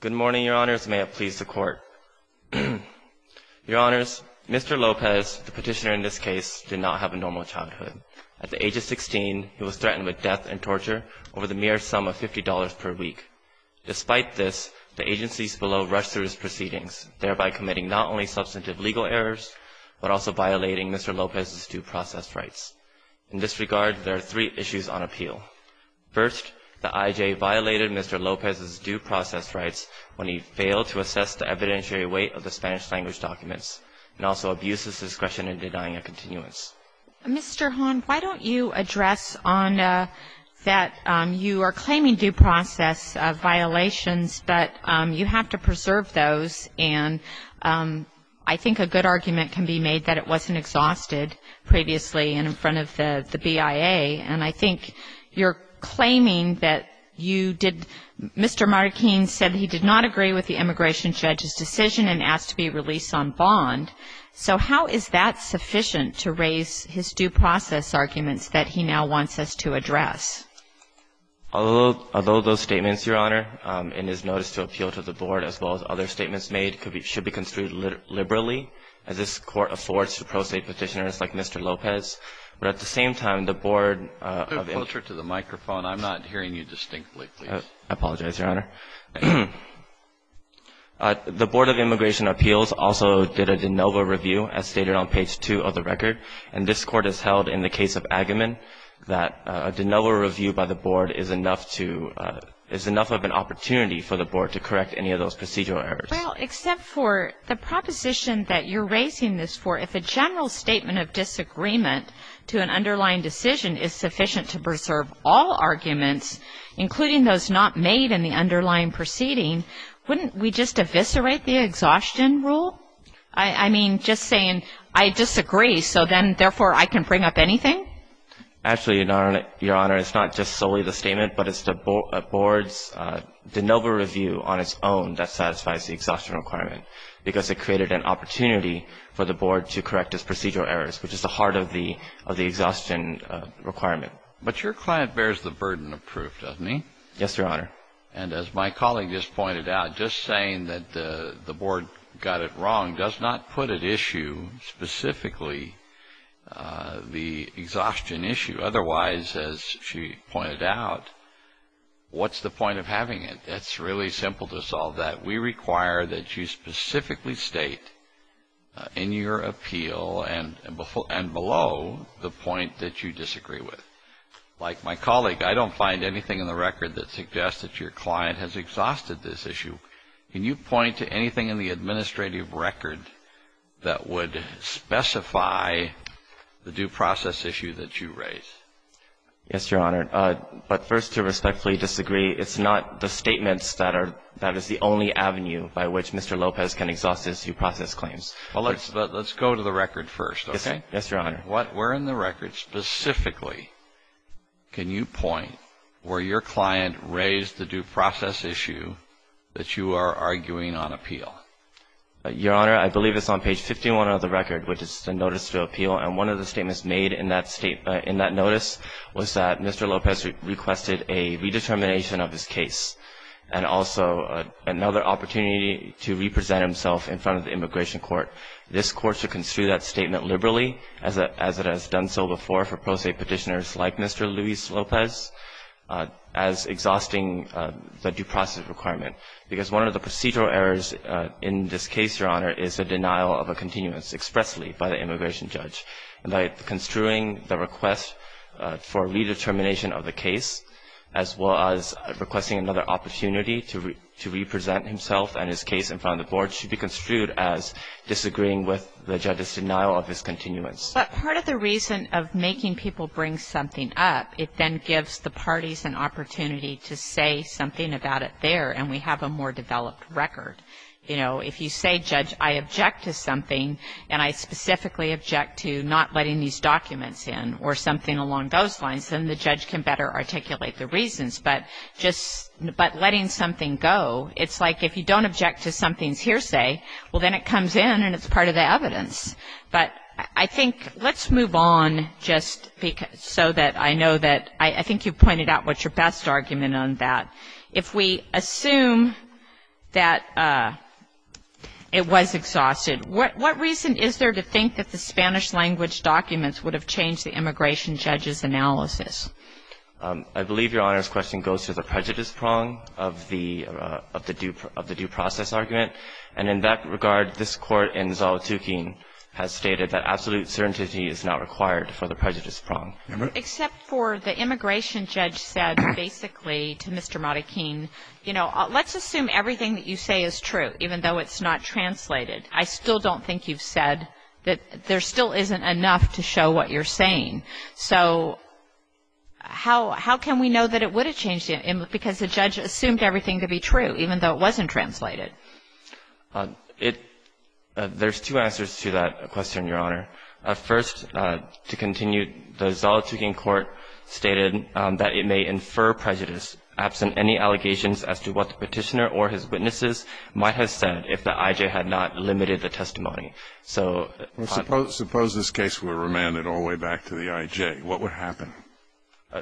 Good morning, Your Honors. May it please the Court. Your Honors, Mr. Lopez, the petitioner in this case, did not have a normal childhood. At the age of 16, he was threatened with death and torture over the mere sum of $50 per week. Despite this, the agencies below rushed through his proceedings, thereby committing not only substantive legal errors, but also violating Mr. Lopez's due process rights. In this regard, there are three issues on appeal. First, the IJA violated Mr. Lopez's due process rights when he failed to assess the evidentiary weight of the Spanish language documents and also abused his discretion in denying a continuance. Mr. Hahn, why don't you address on that you are claiming due process violations, but you have to preserve those. And I think a good argument can be made that it wasn't exhausted previously in front of the BIA. And I think you're claiming that you did, Mr. Marroquin said he did not agree with the immigration judge's decision and asked to be released on bond. So how is that sufficient to raise his due process arguments that he now wants us to address? Although those statements, Your Honor, in his notice to appeal to the Board, as well as other statements made, should be construed liberally, as this Court affords to pro se petitioners like Mr. Lopez. But at the same time, the Board of Immigration Appeals also did a de novo review, as stated on page 2 of the record. And this Court has held in the case of Agamemn that a de novo review by the Board is enough to – is enough of an opportunity for the Board to correct any of those procedural errors. Well, except for the proposition that you're raising this for. If a general statement of disagreement to an underlying decision is sufficient to preserve all arguments, including those not made in the underlying proceeding, wouldn't we just eviscerate the exhaustion rule? I mean, just saying, I disagree, so then, therefore, I can bring up anything? Actually, Your Honor, it's not just solely the statement, but it's the Board's de novo review on its own that satisfies the exhaustion requirement, because it created an opportunity for the Board to correct its procedural errors, which is the heart of the exhaustion requirement. But your client bears the burden of proof, doesn't he? Yes, Your Honor. And as my colleague just pointed out, just saying that the Board got it wrong does not put at issue specifically the exhaustion issue. Otherwise, as she pointed out, what's the point of having it? It's really simple to solve that. We require that you specifically state in your appeal and below the point that you disagree with. Like my colleague, I don't find anything in the record that suggests that your client has exhausted this issue. Can you point to anything in the administrative record that would specify the due process issue that you raise? Yes, Your Honor. But first, to respectfully disagree, it's not the statements that is the only avenue by which Mr. Lopez can exhaust his due process claims. Well, let's go to the record first, okay? Yes, Your Honor. Where in the record specifically can you point where your client raised the due process issue that you are arguing on appeal? Your Honor, I believe it's on page 51 of the record, which is the notice to appeal. And one of the statements made in that notice was that Mr. Lopez requested a redetermination of his case and also another opportunity to represent himself in front of the immigration court. This court should construe that statement liberally, as it has done so before for pro se petitioners like Mr. Luis Lopez, as exhausting the due process requirement. I think that's a very good point, Your Honor, because one of the procedural errors in this case, Your Honor, is the denial of a continuance expressly by the immigration judge. And by construing the request for redetermination of the case as well as requesting another opportunity to represent himself and his case in front of the board should be construed as disagreeing with the judge's denial of his continuance. But part of the reason of making people bring something up, it then gives the parties an opportunity to say something about it there, and we have a more developed record. You know, if you say, Judge, I object to something, and I specifically object to not letting these documents in or something along those lines, then the judge can better articulate the reasons. But just by letting something go, it's like if you don't object to something's hearsay, well, then it comes in and it's part of the evidence. But I think let's move on just so that I know that I think you pointed out what's your best argument on that. If we assume that it was exhausted, what reason is there to think that the Spanish-language documents would have changed the immigration judge's analysis? I believe Your Honor's question goes to the prejudice prong of the due process argument. And in that regard, this Court in Zalatukin has stated that absolute certainty is not required for the prejudice prong. Remember? Except for the immigration judge said basically to Mr. Modikin, you know, let's assume everything that you say is true, even though it's not translated. I still don't think you've said that there still isn't enough to show what you're saying. So how can we know that it would have changed, because the judge assumed everything to be true, even though it wasn't translated? There's two answers to that question, Your Honor. First, to continue, the Zalatukin Court stated that it may infer prejudice, absent any allegations as to what the Petitioner or his witnesses might have said if the I.J. had not limited the testimony. Suppose this case were remanded all the way back to the I.J. What would happen?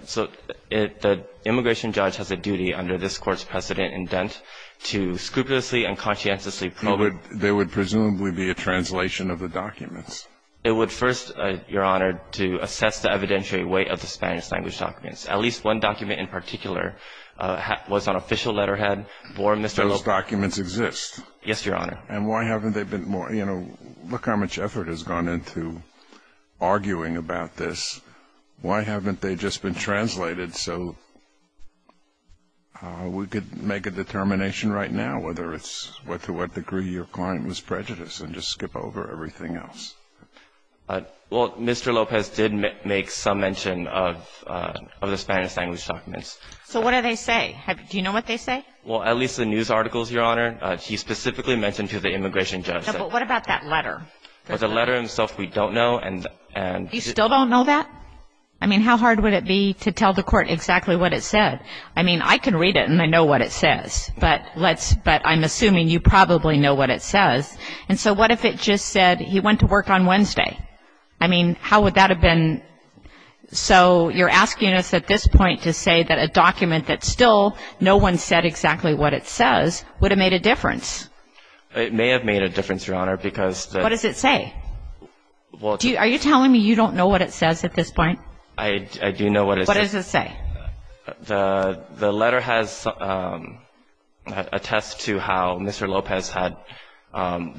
So the immigration judge has a duty under this Court's precedent indent to scrupulously and conscientiously probe it. There would presumably be a translation of the documents. It would first, Your Honor, to assess the evidentiary weight of the Spanish language documents. At least one document in particular was on official letterhead for Mr. López. Those documents exist. Yes, Your Honor. And why haven't they been more, you know, look how much effort has gone into arguing about this. Why haven't they just been translated so we could make a determination right now whether it's to what degree your client was prejudiced and just skip over everything else? Well, Mr. López did make some mention of the Spanish language documents. So what do they say? Do you know what they say? Well, at least the news articles, Your Honor. He specifically mentioned to the immigration judge. What about that letter? The letter himself we don't know. You still don't know that? I mean, how hard would it be to tell the Court exactly what it said? I mean, I can read it and I know what it says. But let's – but I'm assuming you probably know what it says. And so what if it just said he went to work on Wednesday? I mean, how would that have been – so you're asking us at this point to say that a document that still no one said exactly what it says would have made a difference? It may have made a difference, Your Honor, because the – What does it say? Are you telling me you don't know what it says at this point? I do know what it says. What does it say? The letter has – attests to how Mr. López had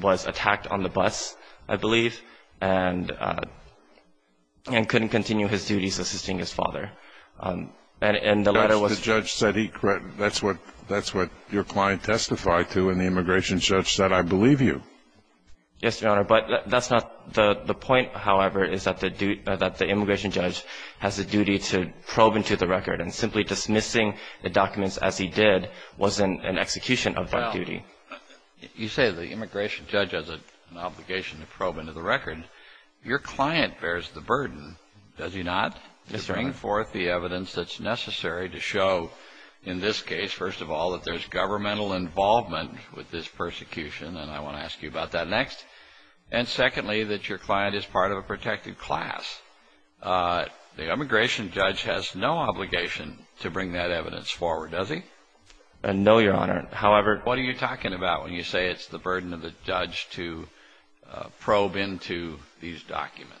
– was attacked on the bus, I believe, and couldn't continue his duties assisting his father. And the letter was – The judge said he – that's what your client testified to, and the immigration judge said, I believe you. Yes, Your Honor. But that's not – the point, however, is that the immigration judge has a duty to probe into the record. And simply dismissing the documents as he did wasn't an execution of that duty. You say the immigration judge has an obligation to probe into the record. Your client bears the burden, does he not? Yes, Your Honor. To bring forth the evidence that's necessary to show in this case, first of all, that there's governmental involvement with this persecution. And I want to ask you about that next. And secondly, that your client is part of a protected class. The immigration judge has no obligation to bring that evidence forward, does he? No, Your Honor. However – What are you talking about when you say it's the burden of the judge to probe into these documents?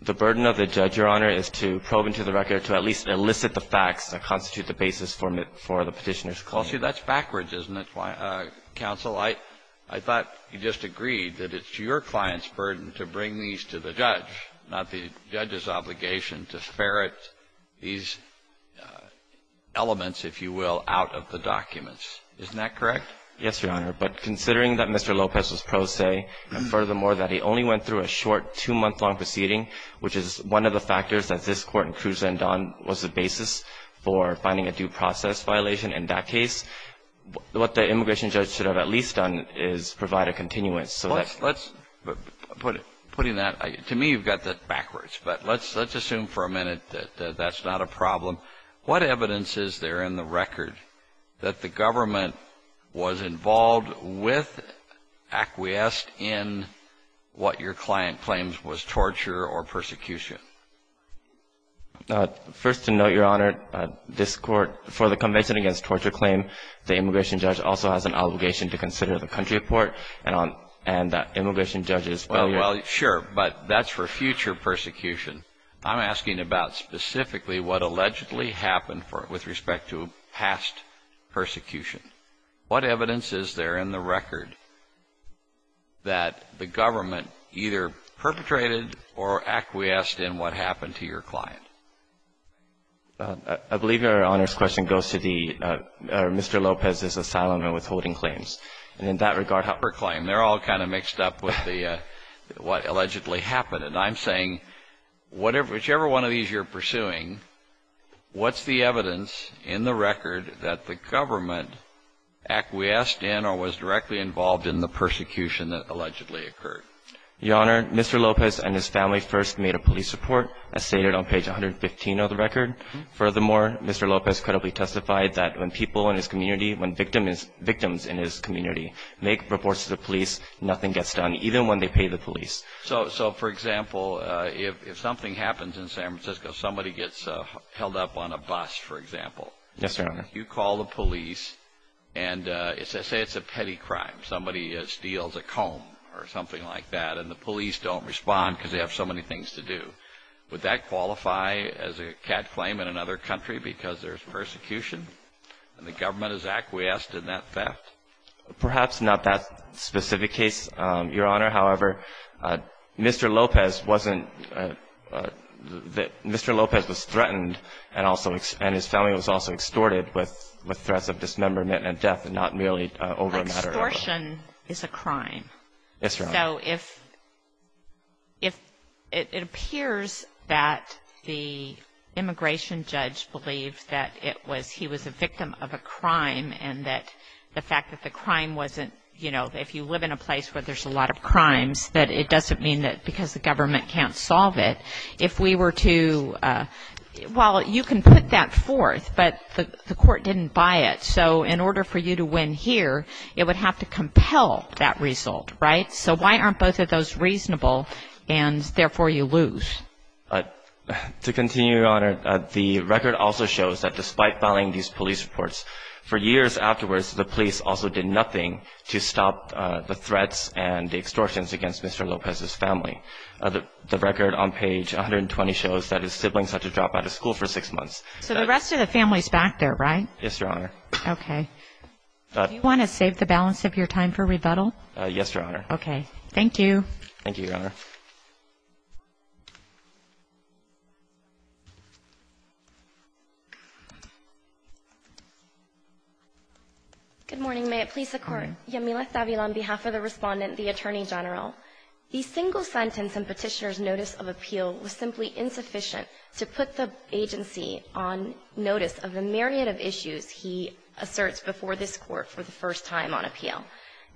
The burden of the judge, Your Honor, is to probe into the record, to at least elicit the facts that constitute the basis for the petitioner's claim. Well, see, that's backwards, isn't it, counsel? I thought you just agreed that it's your client's burden to bring these to the judge, not the judge's obligation to ferret these elements, if you will, out of the documents. Isn't that correct? Yes, Your Honor. But considering that Mr. Lopez was pro se, and furthermore that he only went through a short, two-month-long proceeding, which is one of the factors that this Court in Cruz and Don was the basis for finding a due process violation in that case, what the immigration judge should have at least done is provide a continuance so that – Putting that – to me, you've got that backwards. But let's assume for a minute that that's not a problem. What evidence is there in the record that the government was involved with, acquiesced in, what your client claims was torture or persecution? First to note, Your Honor, this Court, for the Convention Against Torture Claim, the immigration judge also has an obligation to consider the country report, and that immigration judge's failure – Well, sure, but that's for future persecution. I'm asking about specifically what allegedly happened with respect to past persecution. What evidence is there in the record that the government either perpetrated or acquiesced in what happened to your client? I believe Your Honor's question goes to the – or Mr. Lopez's asylum and withholding claims. And in that regard, how – Per claim. They're all kind of mixed up with the – what allegedly happened. And I'm saying whatever – whichever one of these you're pursuing, what's the evidence in the record that the government acquiesced in or was directly involved in the persecution that allegedly occurred? Your Honor, Mr. Lopez and his family first made a police report, as stated on page 115 of the record. Furthermore, Mr. Lopez credibly testified that when people in his community, when victims in his community make reports to the police, nothing gets done, even when they pay the police. So, for example, if something happens in San Francisco, somebody gets held up on a bus, for example. Yes, Your Honor. You call the police and say it's a petty crime. Somebody steals a comb or something like that, and the police don't respond because they have so many things to do. Would that qualify as a cat claim in another country because there's persecution and the government has acquiesced in that theft? Perhaps not that specific case, Your Honor. However, Mr. Lopez wasn't – Mr. Lopez was threatened and also – and his family was also extorted with threats of dismemberment and death and not merely over a matter of – Extortion is a crime. Yes, Your Honor. So if – it appears that the immigration judge believed that it was – he was a victim of a crime and that the fact that the crime wasn't – you know, if you live in a place where there's a lot of crimes, that it doesn't mean that because the government can't solve it. If we were to – well, you can put that forth, but the court didn't buy it. So in order for you to win here, it would have to compel that result, right? So why aren't both of those reasonable and therefore you lose? To continue, Your Honor, the record also shows that despite filing these police reports, for years afterwards the police also did nothing to stop the threats and the extortions against Mr. Lopez's family. The record on page 120 shows that his siblings had to drop out of school for six months. So the rest of the family is back there, right? Yes, Your Honor. Okay. Do you want to save the balance of your time for rebuttal? Yes, Your Honor. Okay. Thank you. Thank you, Your Honor. Good morning. May it please the Court. Yamila Thabila on behalf of the Respondent, the Attorney General. The single sentence in Petitioner's notice of appeal was simply insufficient to put the agency on notice of the myriad of issues he asserts before this Court for the first time on appeal.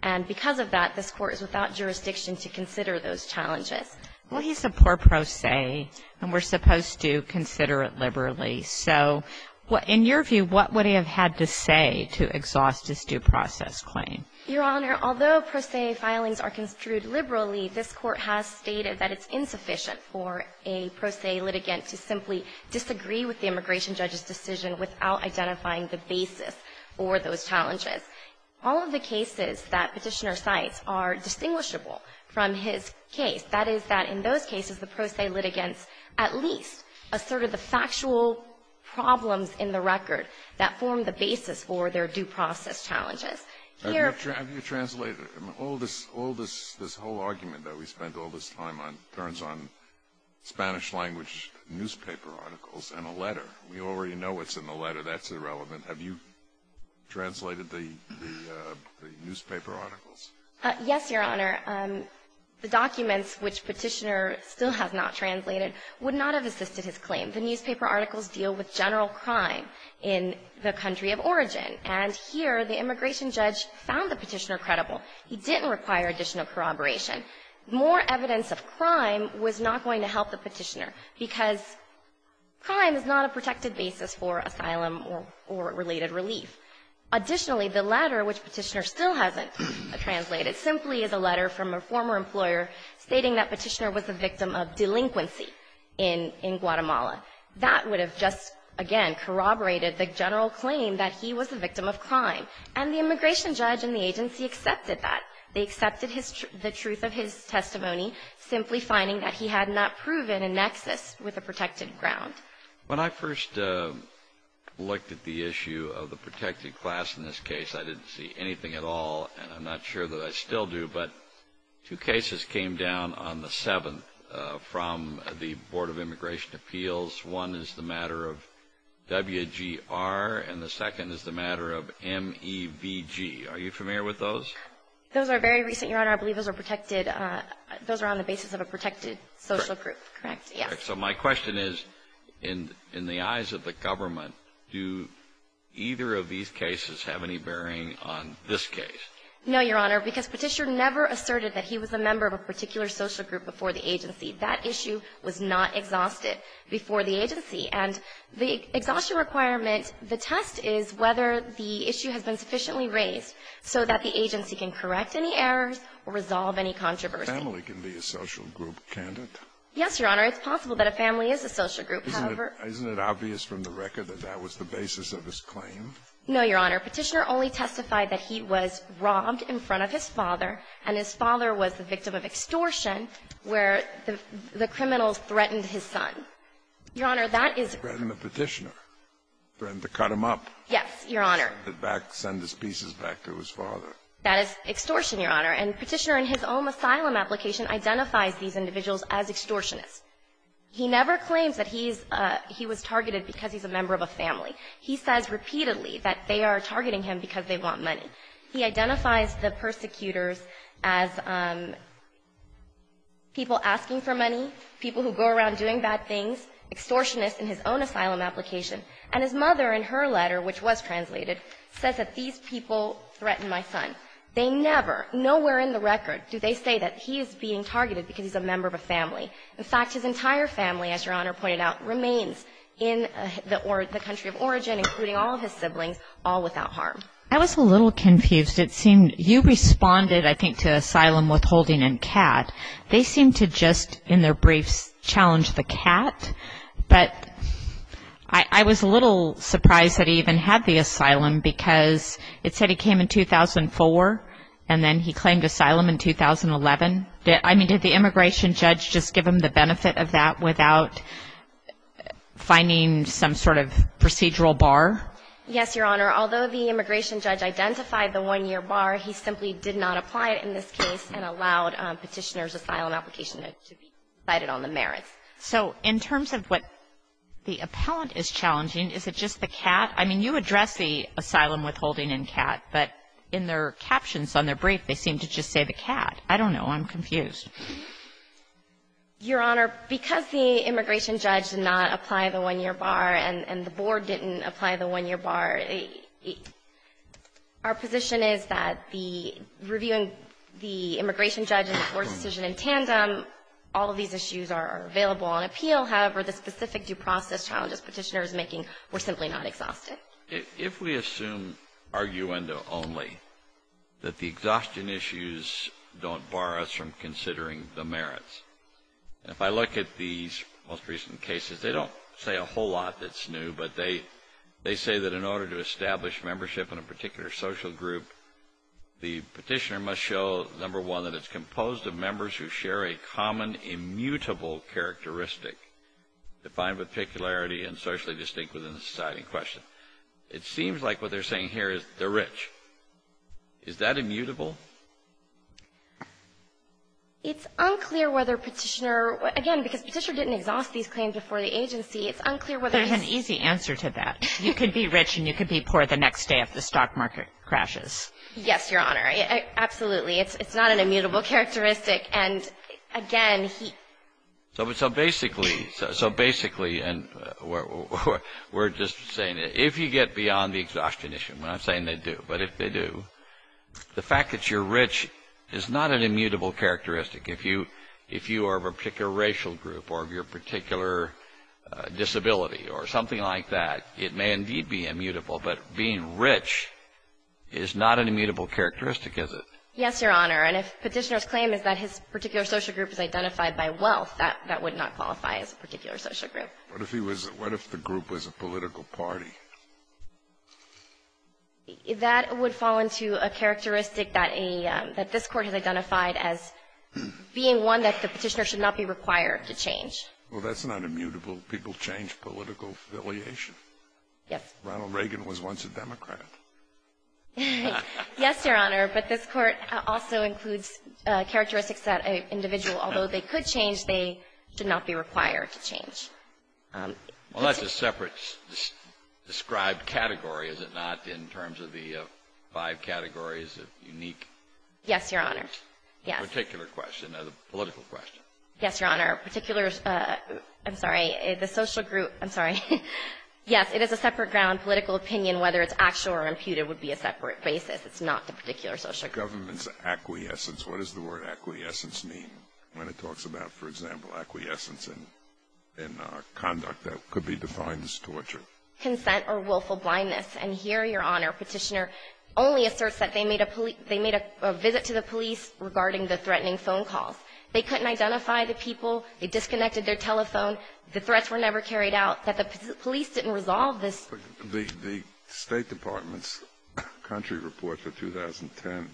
And because of that, this Court is without jurisdiction to consider those challenges. Well, he's a poor pro se, and we're supposed to consider it liberally. So in your view, what would he have had to say to exhaust this due process claim? Your Honor, although pro se filings are construed liberally, this Court has stated that it's insufficient for a pro se litigant to simply disagree with the immigration judge's decision without identifying the basis for those challenges. All of the cases that Petitioner cites are distinguishable from his case. That is that in those cases, the pro se litigants at least asserted the factual problems in the record that formed the basis for their due process challenges. Have you translated all this whole argument that we spent all this time on turns on Spanish language newspaper articles in a letter? We already know what's in the letter. That's irrelevant. Have you translated the newspaper articles? Yes, Your Honor. The documents which Petitioner still has not translated would not have assisted his claim. The newspaper articles deal with general crime in the country of origin. And here, the immigration judge found the Petitioner credible. He didn't require additional corroboration. More evidence of crime was not going to help the Petitioner because crime is not a protected basis for asylum or related relief. Additionally, the letter which Petitioner still hasn't translated simply is a letter from a former employer stating that Petitioner was a victim of delinquency in Guatemala. That would have just, again, corroborated the general claim that he was a victim of crime. And the immigration judge and the agency accepted that. They accepted the truth of his testimony, simply finding that he had not proven a nexus with a protected ground. When I first looked at the issue of the protected class in this case, I didn't see anything at all, and I'm not sure that I still do, but two cases came down on the 7th from the Board of Immigration Appeals. One is the matter of WGR, and the second is the matter of MEVG. Are you familiar with those? Those are very recent, Your Honor. I believe those are protected. Those are on the basis of a protected social group, correct? Yes. Correct. So my question is, in the eyes of the government, do either of these cases have any bearing on this case? No, Your Honor, because Petitioner never asserted that he was a member of a particular social group before the agency. That issue was not exhausted before the agency. And the exhaustion requirement, the test is whether the issue has been sufficiently raised so that the agency can correct any errors or resolve any controversy. A family can be a social group, can't it? Yes, Your Honor. It's possible that a family is a social group. Isn't it obvious from the record that that was the basis of his claim? No, Your Honor. Petitioner only testified that he was robbed in front of his father, and his father was the victim of extortion where the criminal threatened his son. Your Honor, that is the case. Threatened the Petitioner. Threatened to cut him up. Yes, Your Honor. Send his pieces back to his father. That is extortion, Your Honor. And Petitioner in his own asylum application identifies these individuals as extortionists. He never claims that he's he was targeted because he's a member of a family. He says repeatedly that they are targeting him because they want money. He identifies the persecutors as people asking for money, people who go around doing bad things, extortionists in his own asylum application. And his mother in her letter, which was translated, says that these people threatened my son. They never, nowhere in the record do they say that he is being targeted because he's a member of a family. In fact, his entire family, as Your Honor pointed out, remains in the country of origin, including all of his siblings, all without harm. I was a little confused. It seemed you responded, I think, to asylum withholding and CAT. They seemed to just in their briefs challenge the CAT. But I was a little surprised that he even had the asylum because it said he came in 2004 and then he claimed asylum in 2011. I mean, did the immigration judge just give him the benefit of that without finding some sort of procedural bar? Yes, Your Honor. Although the immigration judge identified the one-year bar, he simply did not apply it in this case and allowed Petitioner's asylum application to be decided on the merits. So in terms of what the appellant is challenging, is it just the CAT? I mean, you address the asylum withholding and CAT, but in their captions on their brief, they seem to just say the CAT. I don't know. I'm confused. Your Honor, because the immigration judge did not apply the one-year bar and the board didn't apply the one-year bar, our position is that the reviewing the immigration judge and the court's decision in tandem, all of these issues are available on appeal. However, the specific due process challenges Petitioner is making, we're simply not exhausted. If we assume, arguendo only, that the exhaustion issues don't bar us from considering the merits, and if I look at these most recent cases, they don't say a whole lot that's new, but they say that in order to establish membership in a particular social group, the Petitioner must show, number one, that it's composed of members who share a common immutable characteristic defined with peculiarity and socially distinct within the society in question. It seems like what they're saying here is they're rich. Is that immutable? It's unclear whether Petitioner, again, because Petitioner didn't exhaust these claims before the agency, it's unclear whether he's I have an easy answer to that. You could be rich and you could be poor the next day if the stock market crashes. Yes, Your Honor. Absolutely. It's not an immutable characteristic, and again, he So basically, we're just saying if you get beyond the exhaustion issue, and I'm saying they do, but if they do, the fact that you're rich is not an immutable characteristic. If you are of a particular racial group or of your particular disability or something like that, it may indeed be immutable, but being rich is not an immutable characteristic, is it? Yes, Your Honor. And if Petitioner's claim is that his particular social group is identified by wealth, that would not qualify as a particular social group. What if the group was a political party? That would fall into a characteristic that this Court has identified as being one that the Petitioner should not be required to change. Well, that's not immutable. People change political affiliation. Yes. Ronald Reagan was once a Democrat. Yes, Your Honor. But this Court also includes characteristics that an individual, although they could change, they should not be required to change. Well, that's a separate described category, is it not, in terms of the five categories of unique? Yes, Your Honor. Yes. Particular question or the political question. Yes, Your Honor. Particular, I'm sorry, the social group, I'm sorry. Yes, it is a separate ground. Political opinion, whether it's actual or imputed, would be a separate basis. It's not the particular social group. Government's acquiescence. What does the word acquiescence mean? When it talks about, for example, acquiescence in conduct that could be defined as torture. Consent or willful blindness. And here, Your Honor, Petitioner only asserts that they made a visit to the police regarding the threatening phone calls. They couldn't identify the people. They disconnected their telephone. The threats were never carried out. That the police didn't resolve this. The State Department's country report for 2010,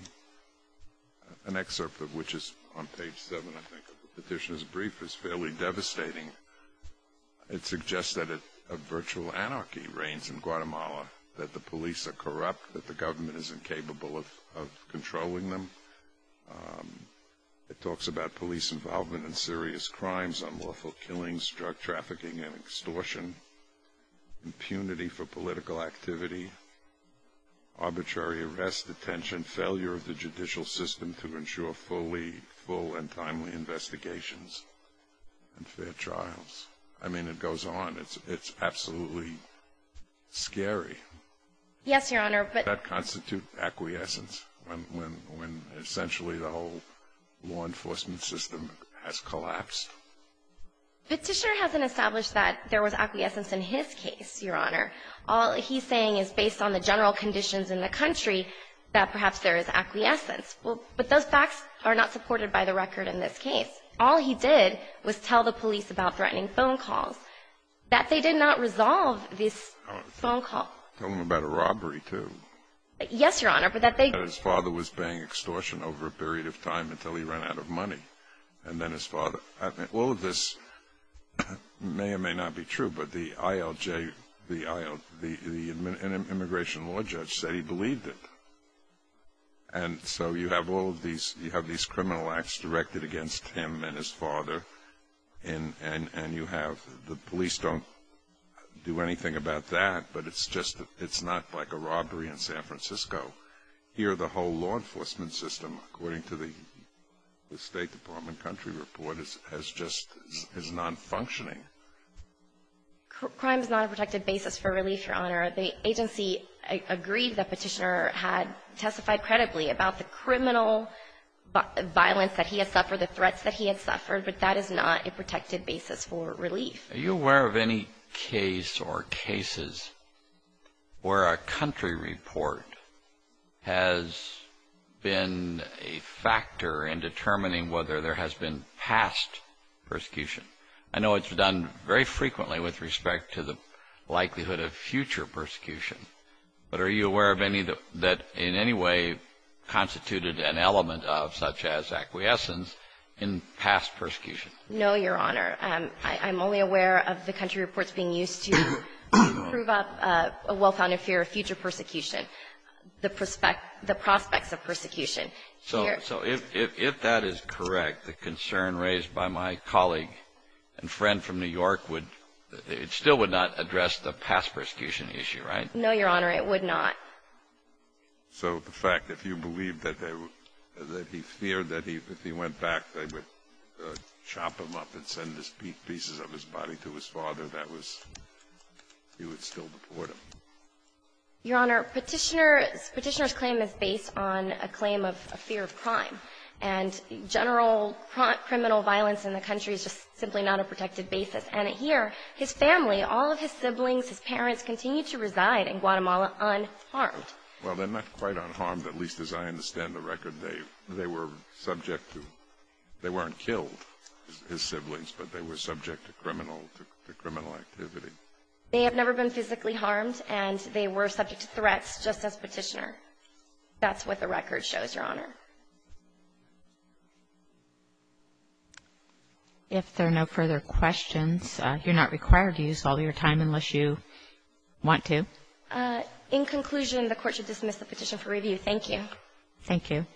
an excerpt of which is on page 7, I think, of the Petitioner's brief, is fairly devastating. It suggests that a virtual anarchy reigns in Guatemala, that the police are corrupt, that the government isn't capable of controlling them. It talks about police involvement in serious crimes, unlawful killings, drug trafficking and extortion, impunity for political activity, arbitrary arrest, detention, failure of the judicial system to ensure full and timely investigations and fair trials. I mean, it goes on. It's absolutely scary. Yes, Your Honor. Does that constitute acquiescence when essentially the whole law enforcement system has collapsed? Petitioner hasn't established that there was acquiescence in his case, Your Honor. All he's saying is based on the general conditions in the country that perhaps there is acquiescence. But those facts are not supported by the record in this case. All he did was tell the police about threatening phone calls, that they did not resolve this phone call. Tell them about a robbery, too. Yes, Your Honor. That his father was paying extortion over a period of time until he ran out of money. And then his father. All of this may or may not be true, but the ILJ, the immigration law judge said he believed it. And so you have all of these, you have these criminal acts directed against him and his father, and you have the police don't do anything about that, but it's just, it's not like a robbery in San Francisco. Here the whole law enforcement system, according to the State Department country report, is just, is nonfunctioning. Crime is not a protected basis for relief, Your Honor. The agency agreed that Petitioner had testified credibly about the criminal violence that he had suffered, the threats that he had suffered, but that is not a protected basis for relief. Are you aware of any case or cases where a country report has been a factor in determining whether there has been past persecution? I know it's done very frequently with respect to the likelihood of future persecution, but are you aware of any that in any way constituted an element of such as acquiescence in past persecution? No, Your Honor. I'm only aware of the country reports being used to prove up a well-founded fear of future persecution, the prospect, the prospects of persecution. So if that is correct, the concern raised by my colleague and friend from New York would, it still would not address the past persecution issue, right? No, Your Honor, it would not. So the fact, if you believe that they were, that he feared that if he went back they would chop him up and send the pieces of his body to his father, that was, you would still deport him? Your Honor, Petitioner's claim is based on a claim of a fear of crime, and general criminal violence in the country is just simply not a protected basis. And here, his family, all of his siblings, his parents, continue to reside in Guatemala unharmed. Well, they're not quite unharmed, at least as I understand the record. They were subject to, they weren't killed, his siblings, but they were subject to criminal activity. They have never been physically harmed, and they were subject to threats just as Petitioner. That's what the record shows, Your Honor. If there are no further questions, you're not required to use all your time unless you want to. In conclusion, the Court should dismiss the petition for review. Thank you. Thank you.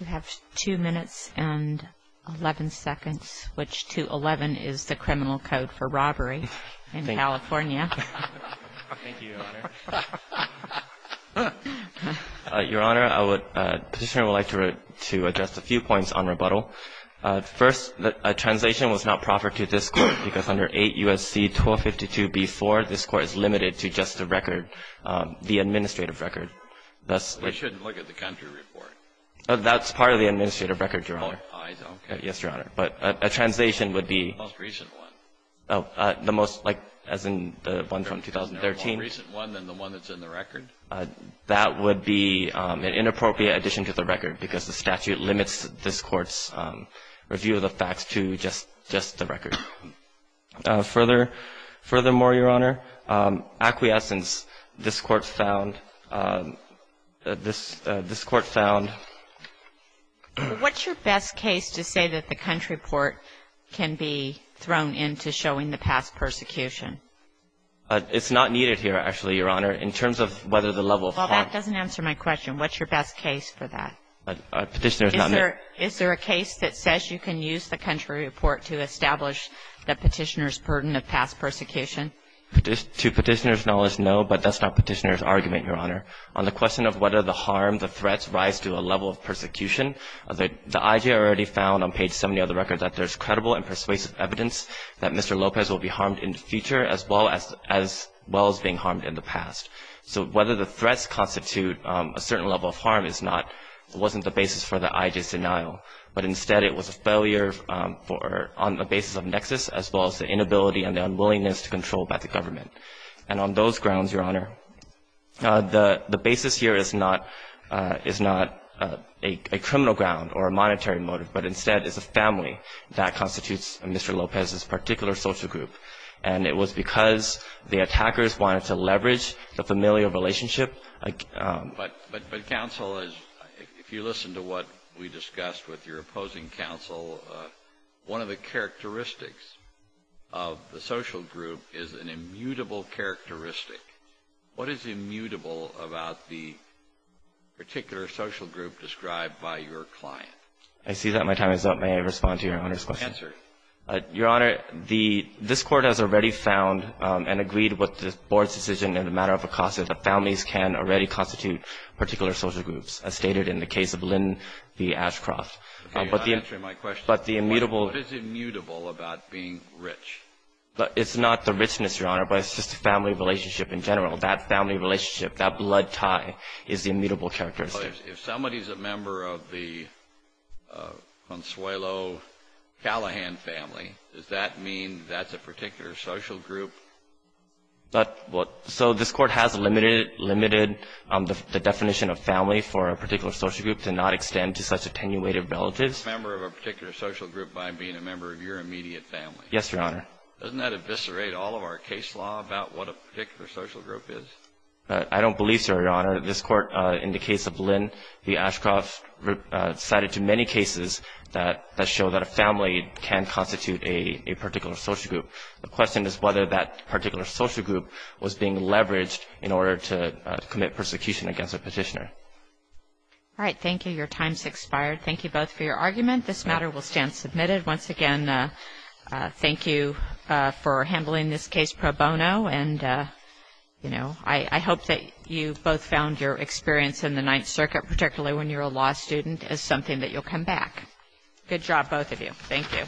We have 2 minutes and 11 seconds, which to 11 is the criminal code for robbery in California. Thank you, Your Honor. Your Honor, I would, Petitioner would like to address a few points on rebuttal. First, a translation was not proffered to this Court because under 8 U.S.C. 1252b-4, this Court is limited to just the record, the administrative record. We shouldn't look at the country report. That's part of the administrative record, Your Honor. Oh, I see. Okay. Yes, Your Honor. But a translation would be. The most recent one. The most, like, as in the one from 2013. More recent one than the one that's in the record. That would be an inappropriate addition to the record because the statute limits this Court's review of the facts to just the record. Furthermore, Your Honor, acquiescence, this Court found, this Court found. What's your best case to say that the country report can be thrown into showing the past persecution? It's not needed here, actually, Your Honor. In terms of whether the level of harm. Well, that doesn't answer my question. What's your best case for that? Petitioner's not making. Is there a case that says you can use the country report to establish the petitioner's burden of past persecution? To Petitioner's knowledge, no, but that's not Petitioner's argument, Your Honor. On the question of whether the harm, the threats rise to a level of persecution, the IJA already found on page 70 of the record that there's credible and persuasive evidence that Mr. Lopez will be harmed in the future as well as being harmed in the past. So whether the threats constitute a certain level of harm is not, wasn't the basis for the IJA's denial, but instead it was a failure on the basis of nexus as well as the inability and the unwillingness to control by the government. And on those grounds, Your Honor, the basis here is not a criminal ground or a monetary motive, but instead is a family that constitutes Mr. Lopez's particular social group. And it was because the attackers wanted to leverage the familial relationship. But counsel, if you listen to what we discussed with your opposing counsel, one of the characteristics of the social group is an immutable characteristic. What is immutable about the particular social group described by your client? I see that my time is up. May I respond to Your Honor's question? Answer it. Your Honor, the, this Court has already found and agreed with the Board's decision in the matter of a cause that the families can already constitute particular social groups, as stated in the case of Lynn v. Ashcroft. You're not answering my question. But the immutable. What is immutable about being rich? It's not the richness, Your Honor, but it's just the family relationship in general. That family relationship, that blood tie is the immutable characteristic. If somebody is a member of the Consuelo Callahan family, does that mean that's a particular social group? So this Court has limited the definition of family for a particular social group to not extend to such attenuated relatives. A member of a particular social group by being a member of your immediate family. Yes, Your Honor. Doesn't that eviscerate all of our case law about what a particular social group is? I don't believe so, Your Honor. This Court, in the case of Lynn v. Ashcroft, cited too many cases that show that a family can constitute a particular social group. The question is whether that particular social group was being leveraged in order to commit persecution against a petitioner. All right. Thank you. Your time's expired. Thank you both for your argument. This matter will stand submitted. Once again, thank you for handling this case pro bono. And, you know, I hope that you both found your experience in the Ninth Circuit, particularly when you're a law student, as something that you'll come back. Good job, both of you. Thank you.